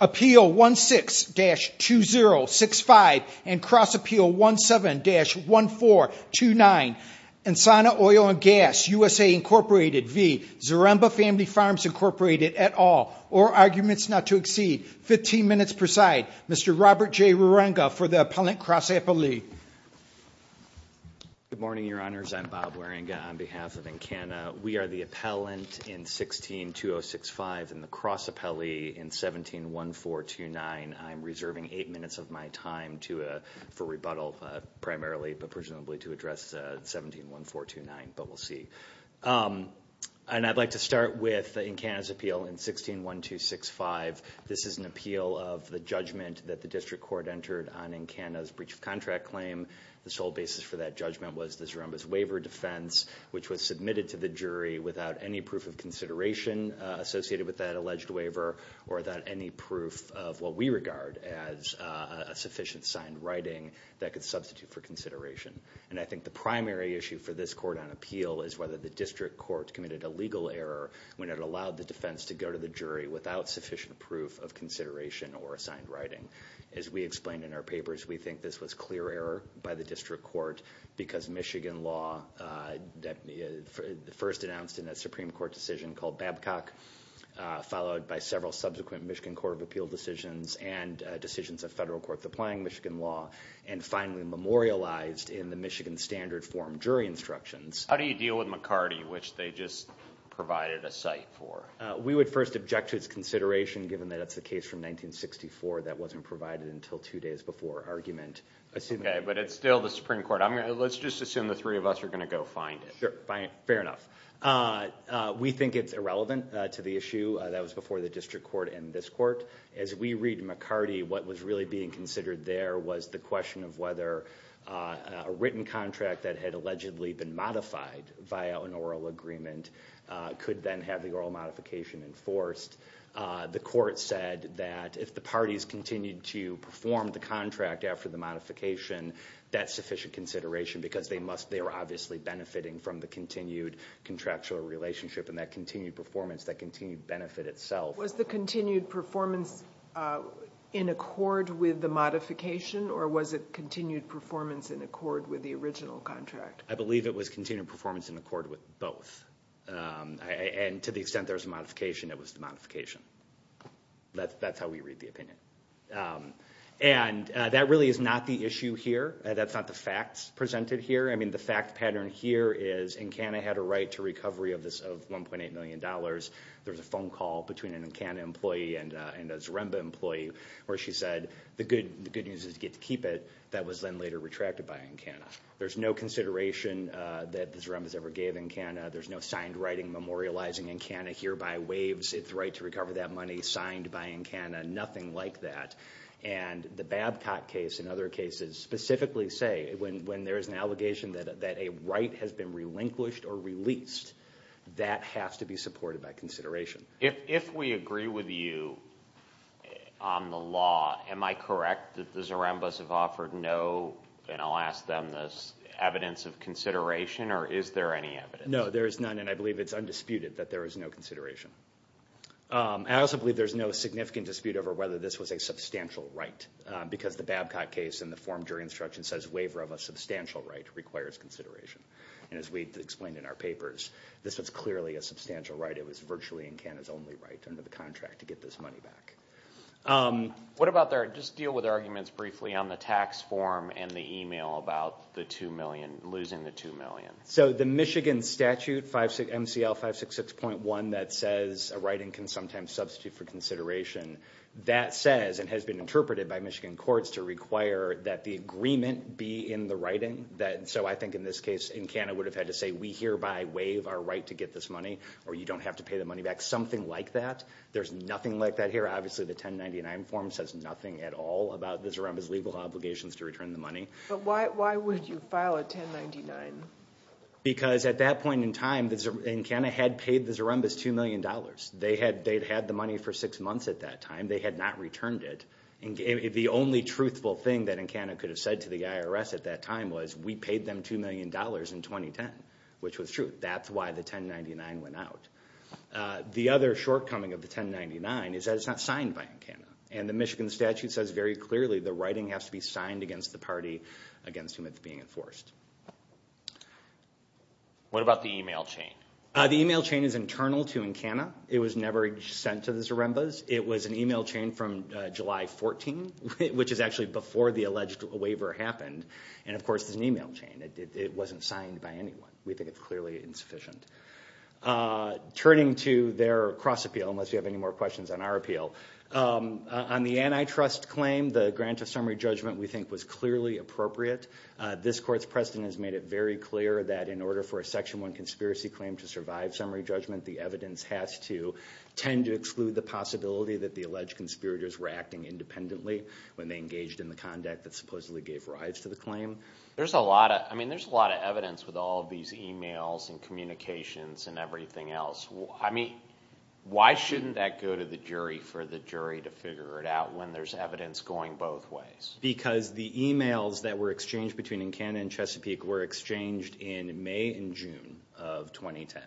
Appeal 16-2065 and Cross Appeal 17-1429, Ensana Oil and Gas USA Inc v. Zaremba Family Farms Inc at all or arguments not to exceed 15 minutes per side. Mr. Robert J. Ruranga for the Appellant Cross Appellee. Good morning, Your Honors. I'm Bob Ruranga on behalf of Encana. We are the Appellant in 16-2065 and the Cross Appellee in 17-1429. I'm reserving eight minutes of my time for rebuttal primarily, but presumably to address 17-1429, but we'll see. And I'd like to start with Encana's appeal in 16-1265. This is an appeal of the judgment that the district court entered on Encana's breach of contract claim. The sole basis for that judgment was the Zaremba's waiver defense, which was submitted to the jury without any proof of consideration associated with that alleged waiver or that any proof of what we regard as a sufficient signed writing that could substitute for consideration. And I think the primary issue for this court on appeal is whether the district court committed a legal error when it allowed the defense to go to the jury without sufficient proof of consideration or assigned writing. As we explained in our papers, we think this was clear error by the district court because Michigan law first announced in a Supreme Court decision called Babcock, followed by several subsequent Michigan Court of Appeal decisions and decisions of federal court applying Michigan law, and finally memorialized in the Michigan Standard Form jury instructions. How do you deal with McCarty, which they just provided a site for? We would first object to its consideration given that it's a case from 1964 that wasn't provided until two days before argument. But it's still the Supreme Court. Let's just assume the three of us are going to go find it. Fair enough. We think it's irrelevant to the issue that was before the district court and this court. As we read McCarty, what was really being considered there was the question of whether a written contract that had allegedly been modified via an oral agreement could then have the oral modification enforced. The court said that if the parties continued to perform the contract after the modification, that's sufficient consideration because they must, they were obviously benefiting from the continued contractual relationship and that continued performance, that continued benefit itself. Was the continued performance in accord with the modification or was it continued performance in accord with the original contract? I believe it was continued performance in accord with both. And to the extent there's a modification, it was the modification. That's how we read the opinion. And that really is not the issue here. That's not the facts presented here. I mean, the fact pattern here is Encana had a right to recovery of $1.8 million. There was a phone call between an Encana employee and a Zaremba employee where she said the good news is you get to keep it. That was then later retracted by Encana. There's no consideration that the Zarembas ever gave Encana. There's no signed writing memorializing Encana hereby waives its right to recover that money signed by Encana. Nothing like that. And the Babcock case and other cases specifically say when there is an allegation that a right has been relinquished or released, that has to be supported by consideration. If we agree with you on the law, am I correct that the Zarembas have offered no, and I'll ask them this, evidence of consideration or is there any evidence? No, there is none, and I believe it's undisputed that there is no consideration. I also believe there's no significant dispute over whether this was a substantial right, because the Babcock case in the form during instruction says waiver of a substantial right requires consideration. And as we explained in our papers, this was clearly a substantial right. It was virtually Encana's only right under the contract to get this money back. What about their, just deal with arguments briefly on the tax form and the email about the $2 million, losing the $2 million. So the Michigan statute, MCL 566.1 that says a writing can sometimes substitute for consideration, that says and has been interpreted by Michigan courts to require that the agreement be in the writing. So I think in this case Encana would have had to say we hereby waive our right to get this money or you don't have to pay the money back, something like that. There's nothing like that here. Obviously the 1099 form says nothing at all about the Zaremba's legal obligations to return the money. But why would you file a 1099? Because at that point in time Encana had paid the Zaremba's $2 million. They had the money for six months at that time. They had not returned it. The only truthful thing that Encana could have said to the IRS at that time was we paid them $2 million in 2010, which was true. That's why the 1099 went out. The other shortcoming of the 1099 is that it's not signed by Encana. And the Michigan statute says very clearly the writing has to be signed against the party against whom it's being enforced. What about the email chain? The email chain is internal to Encana. It was never sent to the Zaremba's. It was an email chain from July 14, which is actually before the alleged waiver happened. And, of course, it's an email chain. It wasn't signed by anyone. We think it's clearly insufficient. Turning to their cross appeal, unless you have any more questions on our appeal. On the antitrust claim, the grant of summary judgment we think was clearly appropriate. This court's precedent has made it very clear that in order for a Section 1 conspiracy claim to survive summary judgment, the evidence has to tend to exclude the possibility that the alleged conspirators were acting independently when they engaged in the conduct that supposedly gave rise to the claim. There's a lot of evidence with all of these emails and communications and everything else. Why shouldn't that go to the jury for the jury to figure it out when there's evidence going both ways? Because the emails that were exchanged between Encana and Chesapeake were exchanged in May and June of 2010.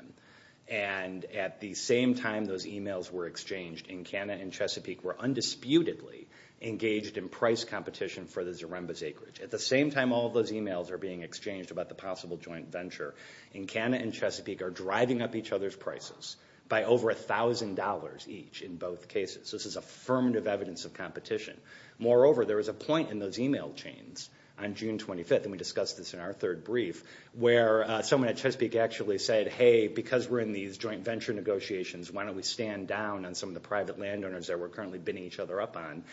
And at the same time those emails were exchanged, Encana and Chesapeake were undisputedly engaged in price competition for the Zaremba's acreage. At the same time all of those emails are being exchanged about the possible joint venture, Encana and Chesapeake are driving up each other's prices by over $1,000 each in both cases. This is affirmative evidence of competition. Moreover, there was a point in those email chains on June 25th, and we discussed this in our third brief, where someone at Chesapeake actually said, hey, because we're in these joint venture negotiations, why don't we stand down on some of the private landowners that we're currently bidding each other up on.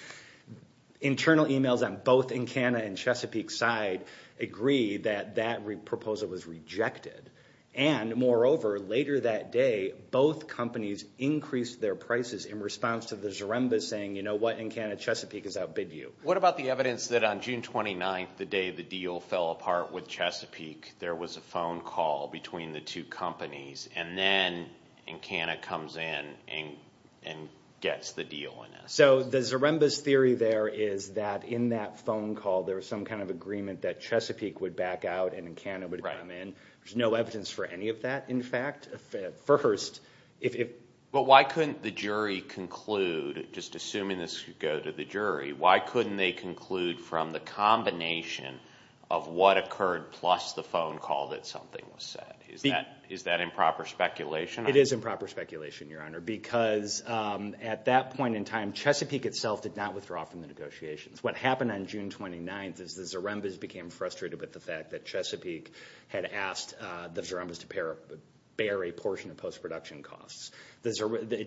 Internal emails on both Encana and Chesapeake's side agree that that proposal was rejected. And moreover, later that day, both companies increased their prices in response to the Zaremba's saying, you know what, Encana, Chesapeake is out, bid you. What about the evidence that on June 29th, the day the deal fell apart with Chesapeake, there was a phone call between the two companies, and then Encana comes in and gets the deal? So the Zaremba's theory there is that in that phone call, there was some kind of agreement that Chesapeake would back out and Encana would come in. There's no evidence for any of that, in fact, at first. But why couldn't the jury conclude, just assuming this could go to the jury, why couldn't they conclude from the combination of what occurred plus the phone call that something was said? Is that improper speculation? It is improper speculation, Your Honor, because at that point in time Chesapeake itself did not withdraw from the negotiations. What happened on June 29th is the Zaremba's became frustrated with the fact that Chesapeake had asked the Zaremba's to bear a portion of post-production costs.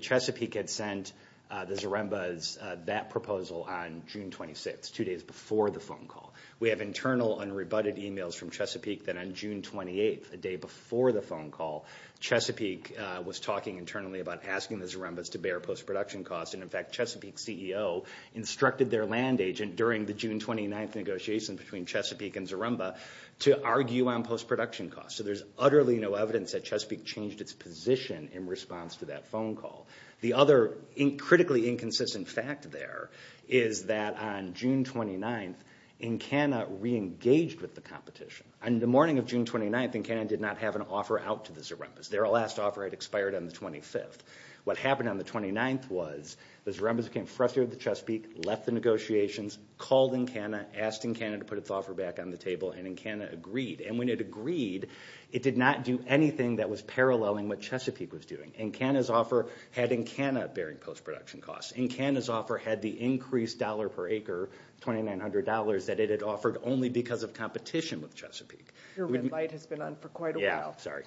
Chesapeake had sent the Zaremba's that proposal on June 26th, two days before the phone call. We have internal and rebutted emails from Chesapeake that on June 28th, the day before the phone call, Chesapeake was talking internally about asking the Zaremba's to bear post-production costs. In fact, Chesapeake's CEO instructed their land agent during the June 29th negotiation between Chesapeake and Zaremba to argue on post-production costs. So there's utterly no evidence that Chesapeake changed its position in response to that phone call. The other critically inconsistent fact there is that on June 29th, Encana reengaged with the competition. On the morning of June 29th, Encana did not have an offer out to the Zaremba's. Their last offer had expired on the 25th. What happened on the 29th was the Zaremba's became frustrated with Chesapeake, left the negotiations, called Encana, asked Encana to put its offer back on the table, and Encana agreed. And when it agreed, it did not do anything that was paralleling what Chesapeake was doing. Encana's offer had Encana bearing post-production costs. Encana's offer had the increased dollar per acre, $2,900, that it had offered only because of competition with Chesapeake. Your red light has been on for quite a while. Yeah, sorry.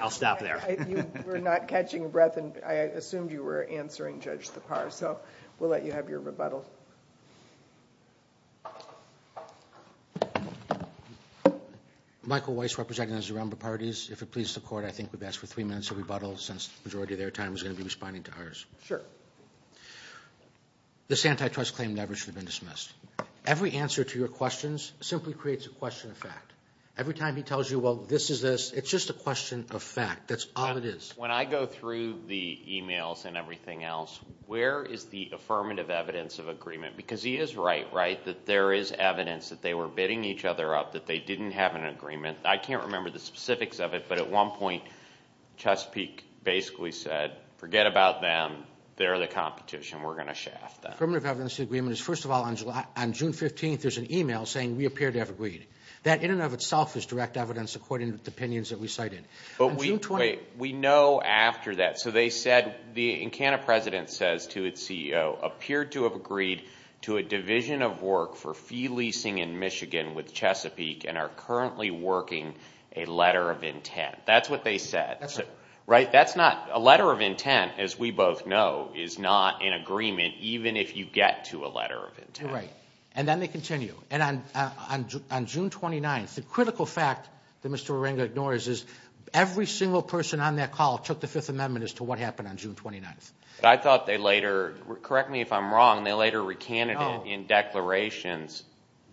I'll stop there. You were not catching your breath, and I assumed you were answering Judge Sipar. So we'll let you have your rebuttal. Michael Weiss representing the Zaremba parties. If it pleases the court, I think we've asked for three minutes of rebuttal since the majority of their time was going to be responding to ours. Sure. This antitrust claim never should have been dismissed. Every answer to your questions simply creates a question of fact. Every time he tells you, well, this is this, it's just a question of fact. That's all it is. When I go through the e-mails and everything else, where is the affirmative evidence of agreement? Because he is right, right, that there is evidence that they were bidding each other up, that they didn't have an agreement. I can't remember the specifics of it, but at one point, Chesapeake basically said, forget about them. They're the competition. We're going to shaft them. Affirmative evidence of agreement is, first of all, on June 15th, there's an e-mail saying we appear to have agreed. That in and of itself is direct evidence according to the opinions that we cited. But we know after that. So they said, the incantant president says to its CEO, appeared to have agreed to a division of work for fee leasing in Michigan with Chesapeake and are currently working a letter of intent. That's what they said. Right? That's not, a letter of intent, as we both know, is not an agreement, even if you get to a letter of intent. Right. And then they continue. And on June 29th, the critical fact that Mr. Waringa ignores is, every single person on that call took the Fifth Amendment as to what happened on June 29th. But I thought they later, correct me if I'm wrong, they later recanted it in declarations.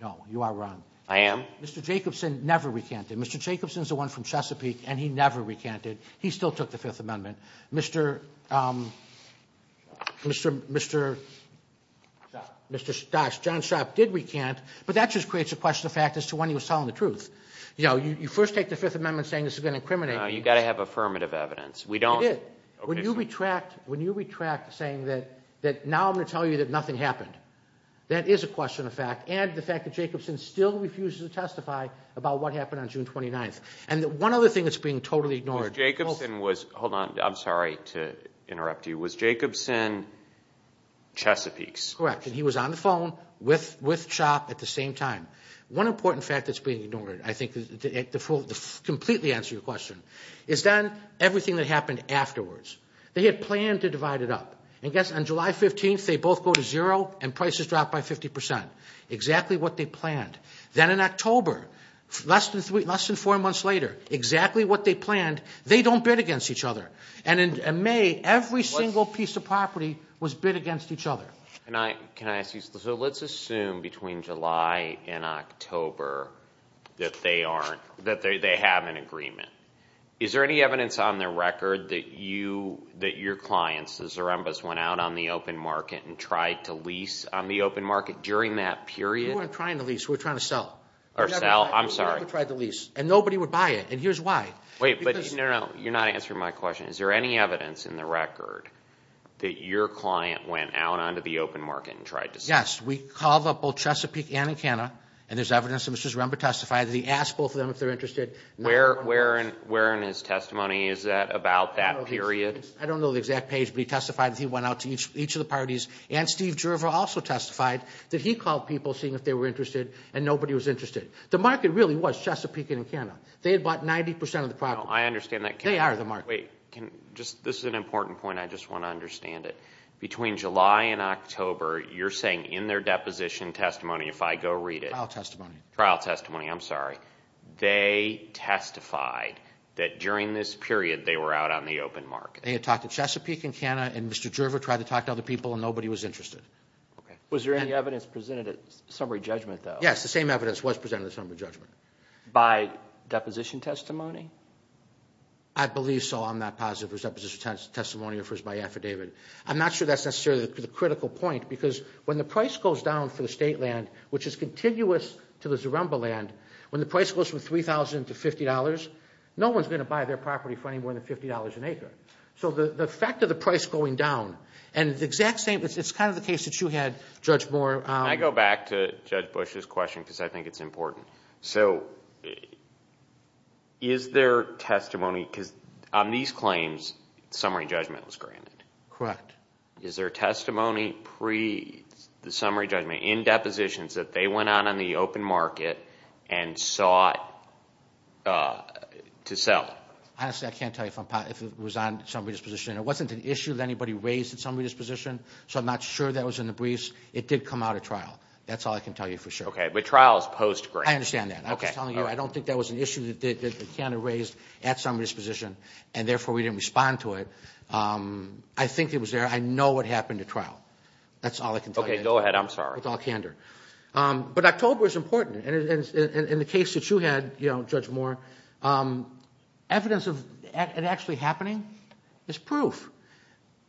No, you are wrong. I am? Mr. Jacobson never recanted. Mr. Jacobson's the one from Chesapeake, and he never recanted. He still took the Fifth Amendment. Mr. Dox, John Sharp did recant, but that just creates a question of fact as to when he was telling the truth. You know, you first take the Fifth Amendment saying this is going to incriminate me. No, you've got to have affirmative evidence. We don't. It is. When you retract saying that now I'm going to tell you that nothing happened, that is a question of fact. And the fact that Jacobson still refuses to testify about what happened on June 29th. And one other thing that's being totally ignored. Hold on. I'm sorry to interrupt you. Was Jacobson Chesapeake's? Correct. And he was on the phone with Sharp at the same time. One important fact that's being ignored, I think, to completely answer your question, is then everything that happened afterwards. They had planned to divide it up. I guess on July 15th they both go to zero and prices drop by 50 percent. Exactly what they planned. Then in October, less than four months later, exactly what they planned. They don't bid against each other. And in May, every single piece of property was bid against each other. Can I ask you, so let's assume between July and October that they have an agreement. Is there any evidence on the record that your clients, the Zarembas, went out on the open market and tried to lease on the open market during that period? We weren't trying to lease. We were trying to sell. Or sell. I'm sorry. We never tried to lease. And nobody would buy it. And here's why. Wait. No, no. You're not answering my question. Is there any evidence in the record that your client went out onto the open market and tried to sell? Yes. We called up both Chesapeake and Encana, and there's evidence that Mr. Zaremba testified that he asked both of them if they're interested. Where in his testimony is that about that period? I don't know the exact page, but he testified that he went out to each of the parties. And Steve Gerver also testified that he called people, seeing if they were interested, and nobody was interested. The market really was Chesapeake and Encana. They had bought 90% of the property. I understand that. They are the market. Wait. This is an important point. I just want to understand it. Between July and October, you're saying in their deposition testimony, if I go read it. Trial testimony. Trial testimony. I'm sorry. They testified that during this period they were out on the open market. They had talked to Chesapeake and Encana, and Mr. Gerver tried to talk to other people, and nobody was interested. Was there any evidence presented at summary judgment, though? Yes. The same evidence was presented at summary judgment. By deposition testimony? I believe so. I'm not positive if it was deposition testimony or if it was by affidavit. I'm not sure that's necessarily the critical point because when the price goes down for the state land, which is contiguous to the Zaremba land, when the price goes from $3,000 to $50, no one's going to buy their property for any more than $50 an acre. So the fact of the price going down, and the exact same, it's kind of the case that you had, Judge Moore. Can I go back to Judge Bush's question because I think it's important? So is there testimony, because on these claims, summary judgment was granted. Correct. Is there testimony pre the summary judgment in depositions that they went out on the open market and sought to sell? Honestly, I can't tell you if it was on summary disposition. It wasn't an issue that anybody raised at summary disposition, so I'm not sure that was in the briefs. It did come out at trial. That's all I can tell you for sure. Okay, but trial is post-grant. I understand that. I was telling you I don't think that was an issue that Canada raised at summary disposition, and therefore we didn't respond to it. I think it was there. I know what happened at trial. That's all I can tell you. Okay, go ahead. I'm sorry. With all candor. But October is important. In the case that you had, Judge Moore, evidence of it actually happening is proof.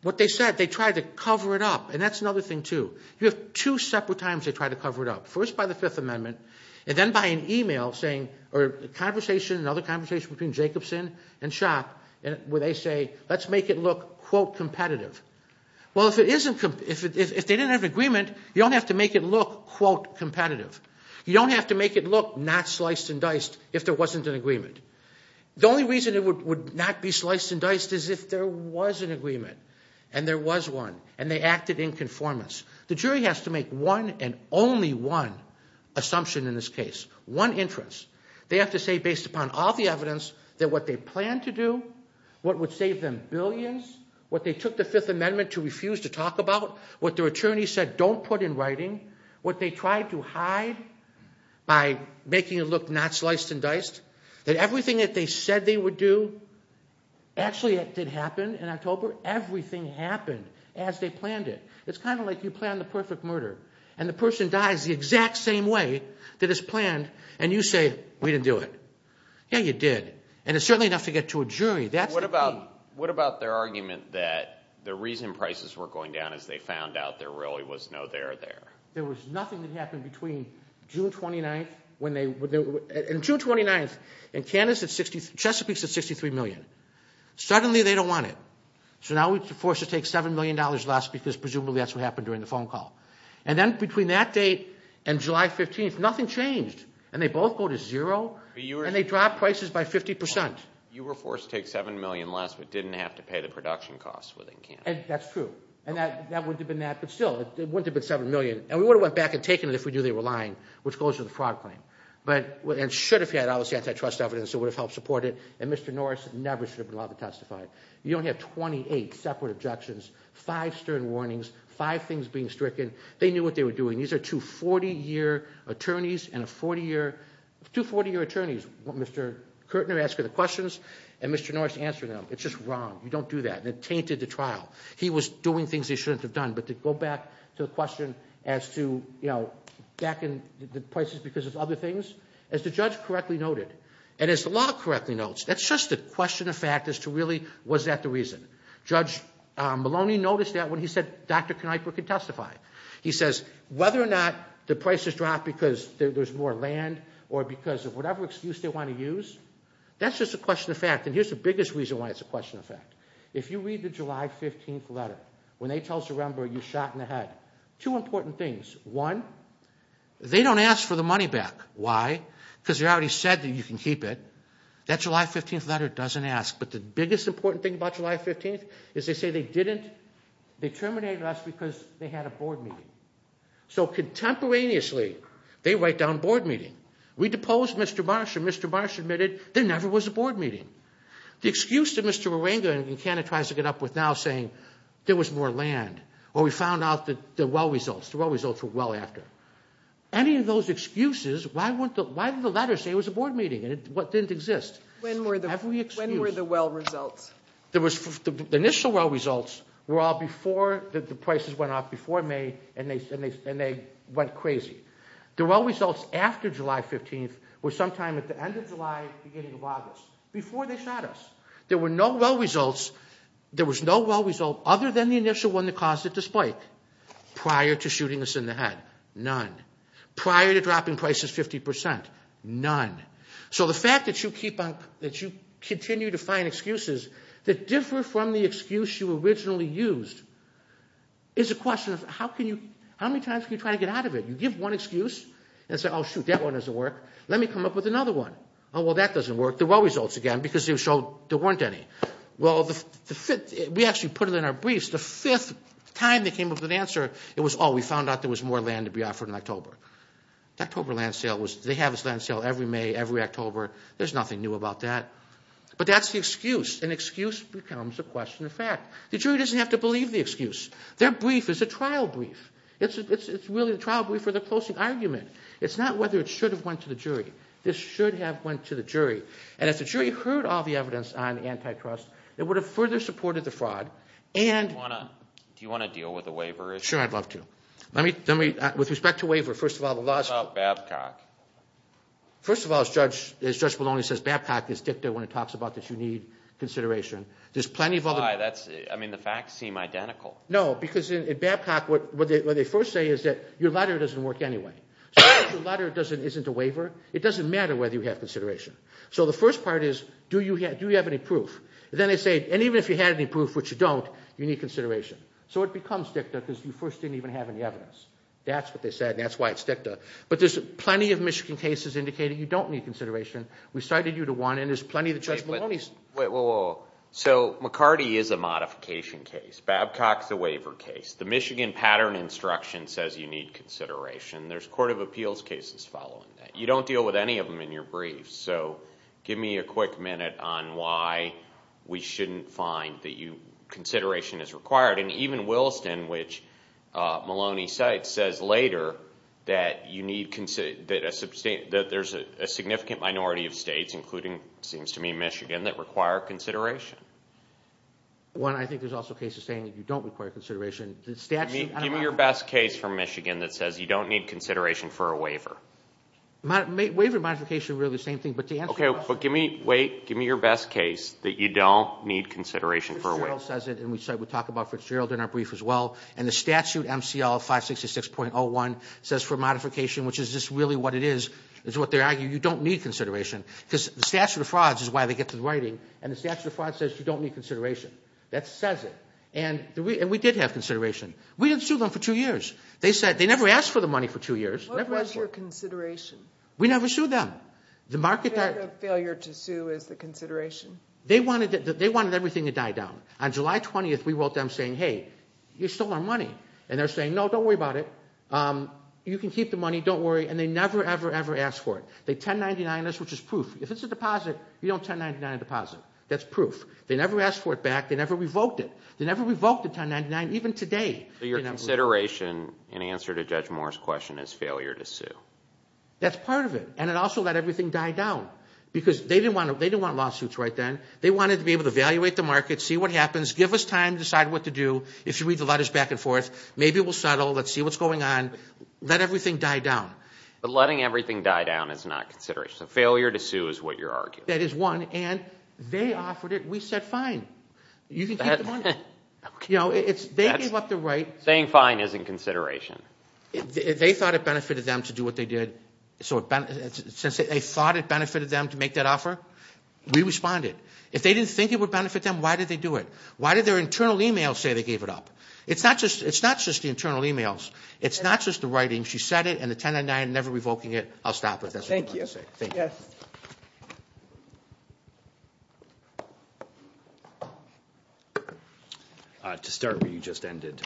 What they said, they tried to cover it up, and that's another thing, too. You have two separate times they tried to cover it up, first by the Fifth Amendment, and then by an email saying, or a conversation, another conversation between Jacobson and Schock where they say, let's make it look, quote, competitive. Well, if they didn't have an agreement, you don't have to make it look, quote, competitive. You don't have to make it look not sliced and diced if there wasn't an agreement. The only reason it would not be sliced and diced is if there was an agreement, and there was one, and they acted in conformance. The jury has to make one and only one assumption in this case, one inference. They have to say, based upon all the evidence, that what they planned to do, what would save them billions, what they took the Fifth Amendment to refuse to talk about, what their attorneys said don't put in writing, what they tried to hide by making it look not sliced and diced, that everything that they said they would do, actually it did happen in October. Everything happened as they planned it. It's kind of like you plan the perfect murder, and the person dies the exact same way that it's planned, and you say, we didn't do it. Yeah, you did, and it's certainly enough to get to a jury. What about their argument that the reason prices were going down is they found out there really was no there there? There was nothing that happened between June 29th and Chesapeake's at $63 million. Suddenly they don't want it, so now we're forced to take $7 million less because presumably that's what happened during the phone call. And then between that date and July 15th, nothing changed, and they both go to zero, and they drop prices by 50%. You were forced to take $7 million less, but didn't have to pay the production costs within Canada. That's true, and that wouldn't have been that, but still, it wouldn't have been $7 million. And we would have went back and taken it if we knew they were lying, which goes to the fraud claim, and should have had, obviously, antitrust evidence that would have helped support it, and Mr. Norris never should have been allowed to testify. You only have 28 separate objections, five stern warnings, five things being stricken. They knew what they were doing. These are two 40-year attorneys, Mr. Kirtner asking the questions, and Mr. Norris answering them. It's just wrong. You don't do that, and it tainted the trial. He was doing things he shouldn't have done, but to go back to the question as to, you know, back in the prices because of other things, as the judge correctly noted, and as the law correctly notes, that's just a question of fact as to really was that the reason. Judge Maloney noticed that when he said Dr. Kneipper could testify. He says, whether or not the prices dropped because there's more land or because of whatever excuse they want to use, that's just a question of fact, and here's the biggest reason why it's a question of fact. If you read the July 15th letter, when they tell Sorembra you shot in the head, two important things. One, they don't ask for the money back. Why? Because they already said that you can keep it. That July 15th letter doesn't ask, but the biggest important thing about July 15th is they say they didn't. They terminated us because they had a board meeting. So contemporaneously, they write down board meeting. We deposed Mr. Marsh, and Mr. Marsh admitted there never was a board meeting. The excuse that Mr. Moringa in Canada tries to get up with now saying there was more land, or we found out the well results, the well results were well after. Any of those excuses, why did the letter say it was a board meeting and it didn't exist? When were the well results? The initial well results were all before the prices went up before May, and they went crazy. The well results after July 15th were sometime at the end of July, beginning of August, before they shot us. There were no well results. There was no well result other than the initial one that caused it to spike prior to shooting us in the head. None. Prior to dropping prices 50%. None. So the fact that you keep on, that you continue to find excuses that differ from the excuse you originally used is a question of how can you, how many times can you try to get out of it? You give one excuse and say, oh, shoot, that one doesn't work. Let me come up with another one. Oh, well, that doesn't work. The well results again because they showed there weren't any. Well, the fifth, we actually put it in our briefs. The fifth time they came up with an answer, it was, oh, we found out there was more land to be offered in October. The October land sale was, they have this land sale every May, every October. There's nothing new about that. But that's the excuse. An excuse becomes a question of fact. The jury doesn't have to believe the excuse. Their brief is a trial brief. It's really a trial brief for the closing argument. It's not whether it should have went to the jury. This should have went to the jury. And if the jury heard all the evidence on antitrust, it would have further supported the fraud and Do you want to deal with the waiver issue? Sure, I'd love to. Let me, with respect to waiver, first of all, the last What about Babcock? First of all, as Judge Maloney says, Babcock is dicta when it talks about that you need consideration. There's plenty of other I mean, the facts seem identical. No, because in Babcock, what they first say is that your letter doesn't work anyway. So if your letter isn't a waiver, it doesn't matter whether you have consideration. So the first part is, do you have any proof? Then they say, and even if you had any proof, which you don't, you need consideration. So it becomes dicta because you first didn't even have any evidence. That's what they said, and that's why it's dicta. But there's plenty of Michigan cases indicating you don't need consideration. We cited you to one, and there's plenty that Judge Maloney Wait, wait, wait. So McCarty is a modification case. Babcock's a waiver case. The Michigan pattern instruction says you need consideration. There's court of appeals cases following that. You don't deal with any of them in your briefs. So give me a quick minute on why we shouldn't find that consideration is required. And even Williston, which Maloney cites, says later that there's a significant minority of states, including, it seems to me, Michigan, that require consideration. One, I think there's also cases saying that you don't require consideration. Give me your best case from Michigan that says you don't need consideration for a waiver. Waiver modification is really the same thing. Okay, but give me your best case that you don't need consideration for a waiver. And we talk about Fitzgerald in our brief as well. And the statute, MCL 566.01, says for modification, which is just really what it is, is what they're arguing, you don't need consideration. Because the statute of frauds is why they get to the writing, and the statute of frauds says you don't need consideration. That says it. And we did have consideration. We didn't sue them for two years. They never asked for the money for two years. What was your consideration? We never sued them. The failure to sue is the consideration. They wanted everything to die down. On July 20th, we wrote them saying, hey, you stole our money. And they're saying, no, don't worry about it. You can keep the money. Don't worry. And they never, ever, ever asked for it. They 1099-ed us, which is proof. If it's a deposit, you don't 1099 a deposit. That's proof. They never asked for it back. They never revoked it. They never revoked the 1099, even today. Your consideration in answer to Judge Moore's question is failure to sue. That's part of it. And it also let everything die down. Because they didn't want lawsuits right then. They wanted to be able to evaluate the market, see what happens, give us time to decide what to do. If you read the letters back and forth, maybe we'll settle. Let's see what's going on. Let everything die down. But letting everything die down is not consideration. So failure to sue is what you're arguing. That is one. And they offered it. We said fine. You can keep the money. They gave up the right. Saying fine is in consideration. They thought it benefited them to do what they did. Since they thought it benefited them to make that offer, we responded. If they didn't think it would benefit them, why did they do it? Why did their internal email say they gave it up? It's not just the internal emails. It's not just the writing. She said it and the 1099 never revoking it. I'll stop it. Thank you. Yes. To start where you just ended,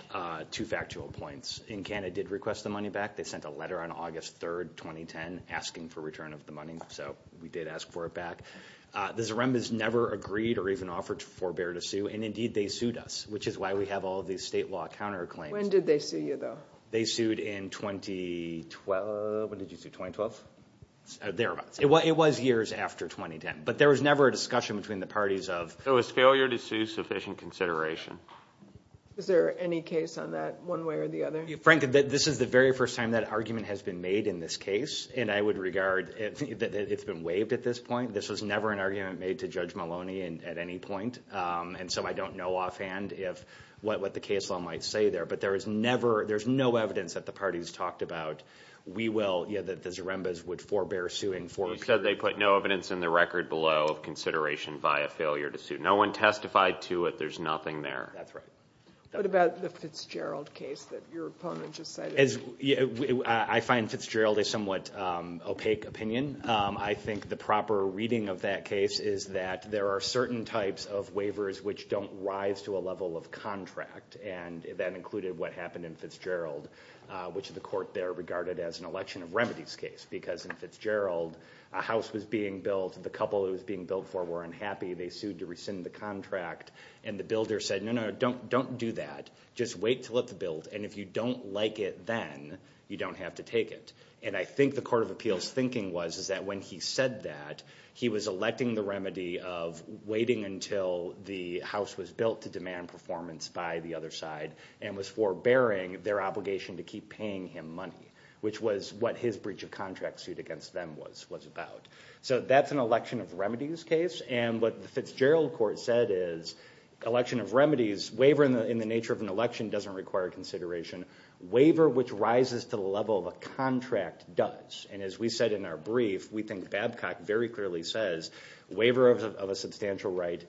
two factual points. In Canada did request the money back. They sent a letter on August 3, 2010, asking for return of the money. So we did ask for it back. The Zarembas never agreed or even offered to forbear to sue. And, indeed, they sued us, which is why we have all these state law counterclaims. When did they sue you, though? They sued in 2012. When did you sue, 2012? Thereabouts. It was years after 2010. But there was never a discussion between the parties of. So was failure to sue sufficient consideration? Is there any case on that, one way or the other? Frank, this is the very first time that argument has been made in this case. And I would regard that it's been waived at this point. This was never an argument made to Judge Maloney at any point. And so I don't know offhand what the case law might say there. But there's no evidence that the parties talked about we will, that the Zarembas would forbear suing for. You said they put no evidence in the record below of consideration via failure to sue. No one testified to it. There's nothing there. That's right. What about the Fitzgerald case that your opponent just cited? I find Fitzgerald a somewhat opaque opinion. I think the proper reading of that case is that there are certain types of waivers which don't rise to a level of contract. And that included what happened in Fitzgerald, which the court there regarded as an election of remedies case. Because in Fitzgerald, a house was being built. The couple it was being built for were unhappy. They sued to rescind the contract. And the builder said, no, no, don't do that. Just wait until it's built. And if you don't like it then, you don't have to take it. And I think the Court of Appeals' thinking was is that when he said that, he was electing the remedy of waiting until the house was built to demand performance by the other side and was forbearing their obligation to keep paying him money, which was what his breach of contract suit against them was about. So that's an election of remedies case. And what the Fitzgerald court said is election of remedies, waiver in the nature of an election doesn't require consideration. Waiver which rises to the level of a contract does. And as we said in our brief, we think Babcock very clearly says waiver of a substantial right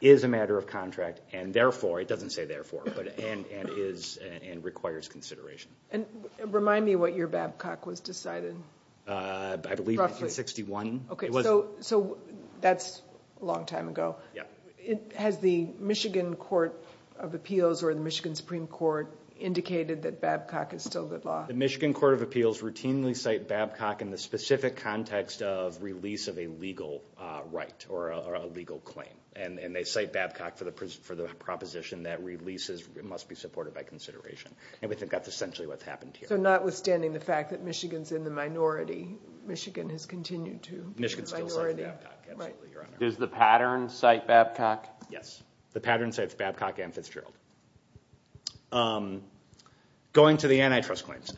is a matter of contract and therefore, it doesn't say therefore, but and is and requires consideration. And remind me what year Babcock was decided. I believe it was in 61. Okay. So that's a long time ago. Yeah. Has the Michigan Court of Appeals or the Michigan Supreme Court indicated that Babcock is still good law? The Michigan Court of Appeals routinely cite Babcock in the specific context of release of a legal right or a legal claim. And they cite Babcock for the proposition that releases must be supported by consideration. And we think that's essentially what's happened here. So notwithstanding the fact that Michigan's in the minority, Michigan has continued to be a minority. Michigan still cites Babcock. Absolutely, Your Honor. Does the pattern cite Babcock? Yes. The pattern cites Babcock and Fitzgerald. Going to the antitrust claims,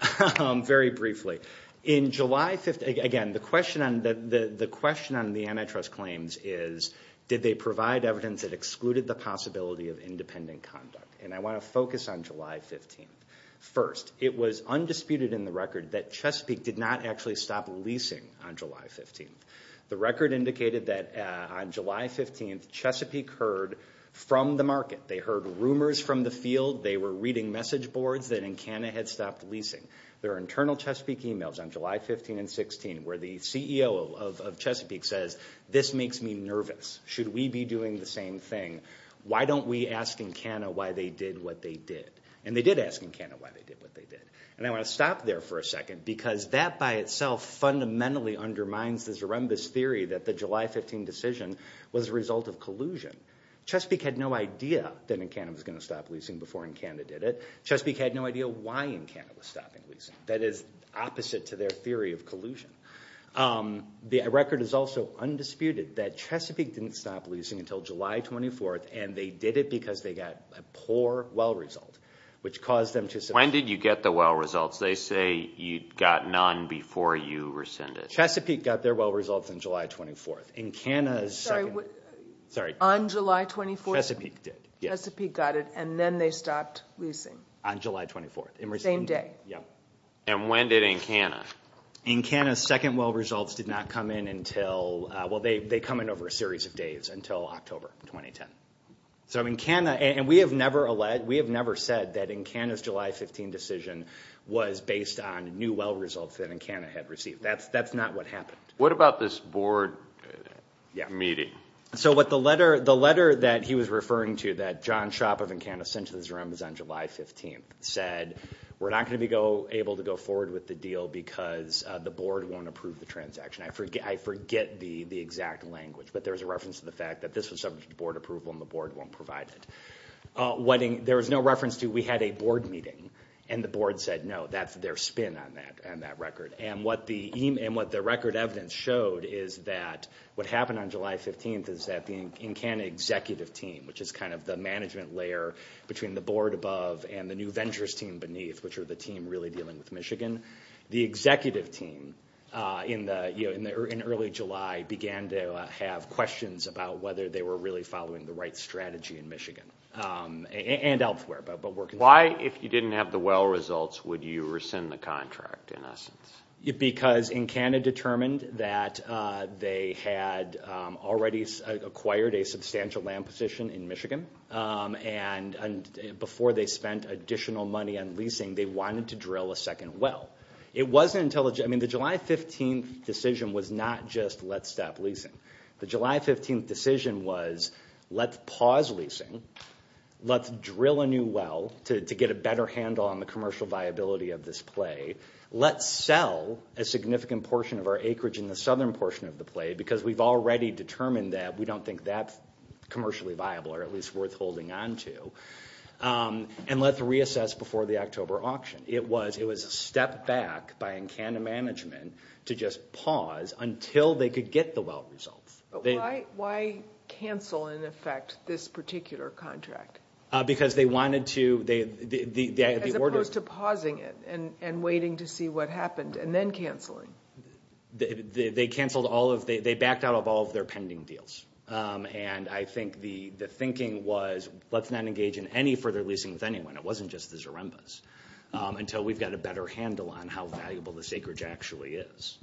very briefly. In July 15th, again, the question on the antitrust claims is did they provide evidence that excluded the possibility of independent conduct? And I want to focus on July 15th. First, it was undisputed in the record that Chesapeake did not actually stop leasing on July 15th. The record indicated that on July 15th, Chesapeake heard from the market. They heard rumors from the field. They were reading message boards that Encana had stopped leasing. There are internal Chesapeake emails on July 15th and 16th where the CEO of Chesapeake says, this makes me nervous. Should we be doing the same thing? Why don't we ask Encana why they did what they did? And they did ask Encana why they did what they did. And I want to stop there for a second because that by itself fundamentally undermines the Zaremba's theory that the July 15 decision was a result of collusion. Chesapeake had no idea that Encana was going to stop leasing before Encana did it. Chesapeake had no idea why Encana was stopping leasing. That is opposite to their theory of collusion. The record is also undisputed that Chesapeake didn't stop leasing until July 24th and they did it because they got a poor well result, which caused them to- When did you get the well results? They say you got none before you rescinded. Chesapeake got their well results on July 24th. Encana's second- Sorry. On July 24th? Chesapeake did. Chesapeake got it and then they stopped leasing. On July 24th. Same day. Yeah. And when did Encana? Encana's second well results did not come in until- So Encana- And we have never said that Encana's July 15 decision was based on new well results that Encana had received. That's not what happened. What about this board meeting? So what the letter- the letter that he was referring to that John Schaap of Encana sent to this room was on July 15th said, we're not going to be able to go forward with the deal because the board won't approve the transaction. I forget the exact language, but there's a reference to the fact that this was subject to board approval and the board won't provide it. There was no reference to we had a board meeting and the board said, no, that's their spin on that record. And what the record evidence showed is that what happened on July 15th is that the Encana executive team, which is kind of the management layer between the board above and the New Ventures team beneath, which are the team really dealing with Michigan, the executive team in early July began to have questions about whether they were really following the right strategy in Michigan. And elsewhere. Why, if you didn't have the well results, would you rescind the contract in essence? Because Encana determined that they had already acquired a substantial And before they spent additional money on leasing, they wanted to drill a second well. The July 15th decision was not just let's stop leasing. The July 15th decision was let's pause leasing. Let's drill a new well to get a better handle on the commercial viability of this play. Let's sell a significant portion of our acreage in the southern portion of the play because we've already determined that we don't think that's commercially viable or at least worth holding on to. And let's reassess before the October auction. It was a step back by Encana management to just pause until they could get the well results. Why cancel in effect this particular contract? Because they wanted to. As opposed to pausing it and waiting to see what happened and then canceling. They backed out of all of their pending deals. And I think the thinking was let's not engage in any further leasing with anyone. It wasn't just the Zaremba's until we've got a better handle on how valuable this acreage actually is.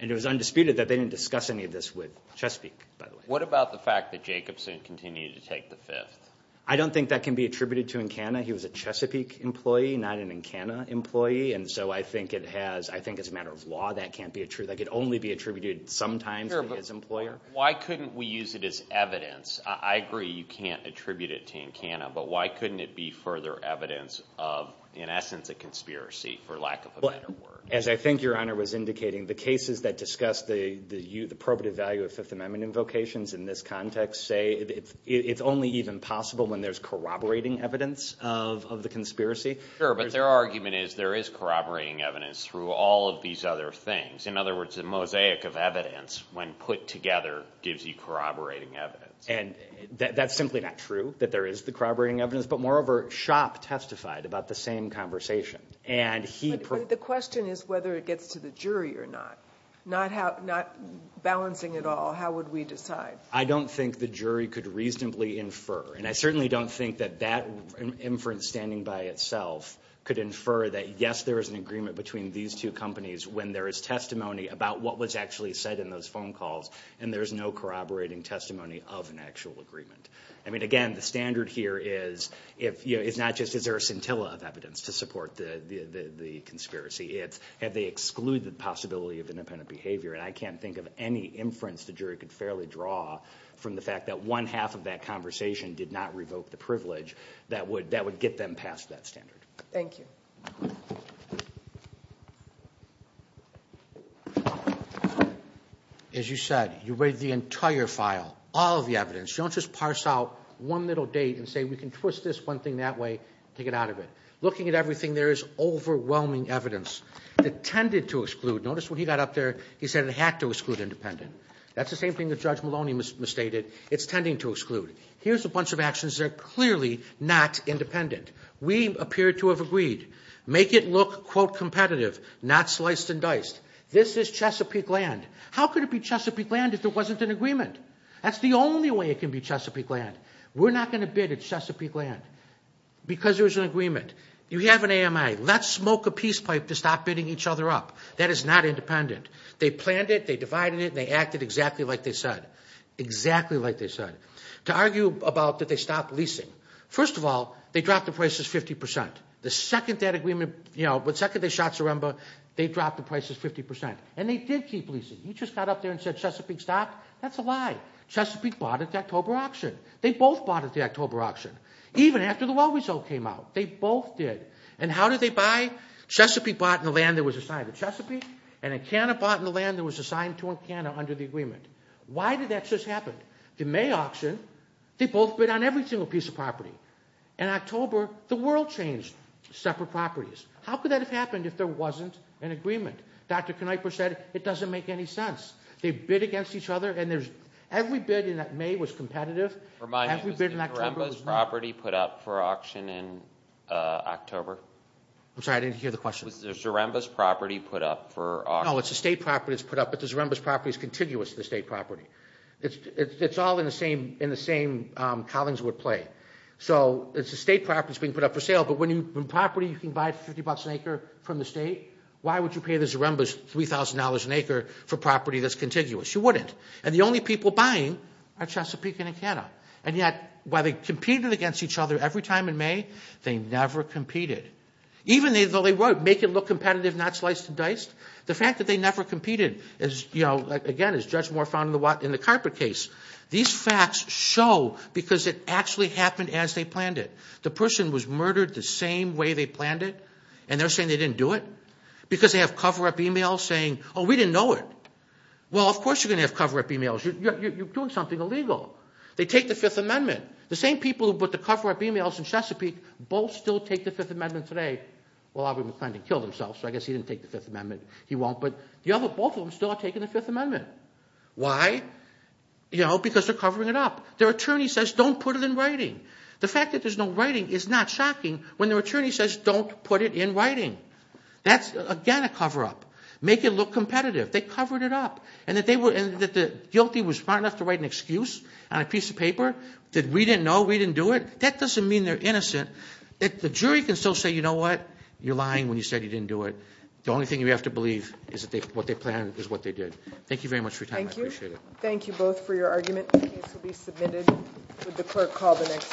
And it was undisputed that they didn't discuss any of this with Chesapeake. What about the fact that Jacobson continued to take the fifth? I don't think that can be attributed to Encana. He was a Chesapeake employee, not an Encana employee. And so I think it has, I think it's a matter of law. That can't be a true. That could only be attributed sometimes to his employer. Why couldn't we use it as evidence? I agree you can't attribute it to Encana. But why couldn't it be further evidence of, in essence, a conspiracy for lack of a better word? As I think your Honor was indicating, the cases that discuss the probative value of Fifth Amendment invocations in this context say it's only even possible when there's corroborating evidence of the conspiracy. Sure. But their argument is there is corroborating evidence through all of these other things. In other words, the mosaic of evidence, when put together, gives you corroborating evidence. And that's simply not true, that there is the corroborating evidence. But moreover, Shopp testified about the same conversation. But the question is whether it gets to the jury or not. Not balancing it all, how would we decide? I don't think the jury could reasonably infer. And I certainly don't think that that inference, standing by itself, could infer that, yes, there is an agreement between these two companies when there is testimony about what was actually said in those phone calls, and there's no corroborating testimony of an actual agreement. Again, the standard here is not just is there a scintilla of evidence to support the conspiracy. It's have they excluded the possibility of independent behavior. And I can't think of any inference the jury could fairly draw from the fact that one half of that conversation did not revoke the privilege that would get them past that standard. Thank you. As you said, you read the entire file, all of the evidence. Don't just parse out one little date and say we can twist this one thing that way and take it out of it. Looking at everything, there is overwhelming evidence that tended to exclude. Notice when he got up there, he said it had to exclude independent. That's the same thing that Judge Maloney misstated. It's tending to exclude. Here's a bunch of actions that are clearly not independent. We appear to have agreed. Make it look, quote, competitive, not sliced and diced. This is Chesapeake land. How could it be Chesapeake land if there wasn't an agreement? That's the only way it can be Chesapeake land. We're not going to bid at Chesapeake land because there's an agreement. You have an AMI. Let's smoke a peace pipe to stop bidding each other up. That is not independent. They planned it, they divided it, and they acted exactly like they said, exactly like they said. To argue about did they stop leasing, first of all, they dropped the prices 50%. The second that agreement, you know, the second they shot Soremba, they dropped the prices 50%. And they did keep leasing. You just got up there and said Chesapeake stopped. That's a lie. Chesapeake bought at the October auction. They both bought at the October auction, even after the well result came out. They both did. And how did they buy? Chesapeake bought in the land that was assigned to Chesapeake, and Encana bought in the land that was assigned to Encana under the agreement. Why did that just happen? The May auction, they both bid on every single piece of property. In October, the world changed, separate properties. How could that have happened if there wasn't an agreement? Dr. Knieper said it doesn't make any sense. They bid against each other, and every bid in that May was competitive. Remind me, was the Soremba's property put up for auction in October? I'm sorry, I didn't hear the question. Was the Soremba's property put up for auction? No, it's a state property that's put up, but the Soremba's property is contiguous to the state property. It's all in the same Collinswood play. So it's a state property that's being put up for sale, but when property you can buy for $50 an acre from the state, why would you pay the Soremba's $3,000 an acre for property that's contiguous? You wouldn't. And the only people buying are Chesapeake and Encana. And yet, while they competed against each other every time in May, they never competed. Even though they would make it look competitive, not sliced and diced, the fact that they never competed is, again, as Judge Moore found in the carpet case. These facts show because it actually happened as they planned it. The person was murdered the same way they planned it, and they're saying they didn't do it? Because they have cover-up emails saying, oh, we didn't know it. Well, of course you're going to have cover-up emails. You're doing something illegal. They take the Fifth Amendment. The same people who put the cover-up emails in Chesapeake, both still take the Fifth Amendment today. Well, Aubrey McClendon killed himself, so I guess he didn't take the Fifth Amendment. He won't, but the other both of them still are taking the Fifth Amendment. Why? Because they're covering it up. Their attorney says don't put it in writing. The fact that there's no writing is not shocking when their attorney says don't put it in writing. That's, again, a cover-up. Make it look competitive. They covered it up. And that the guilty was smart enough to write an excuse on a piece of paper, that we didn't know, we didn't do it? That doesn't mean they're innocent. The jury can still say, you know what? You're lying when you said you didn't do it. The only thing you have to believe is that what they planned is what they did. Thank you very much for your time. I appreciate it. Thank you. Thank you both for your argument. The case will be submitted. Would the clerk call the next case, please?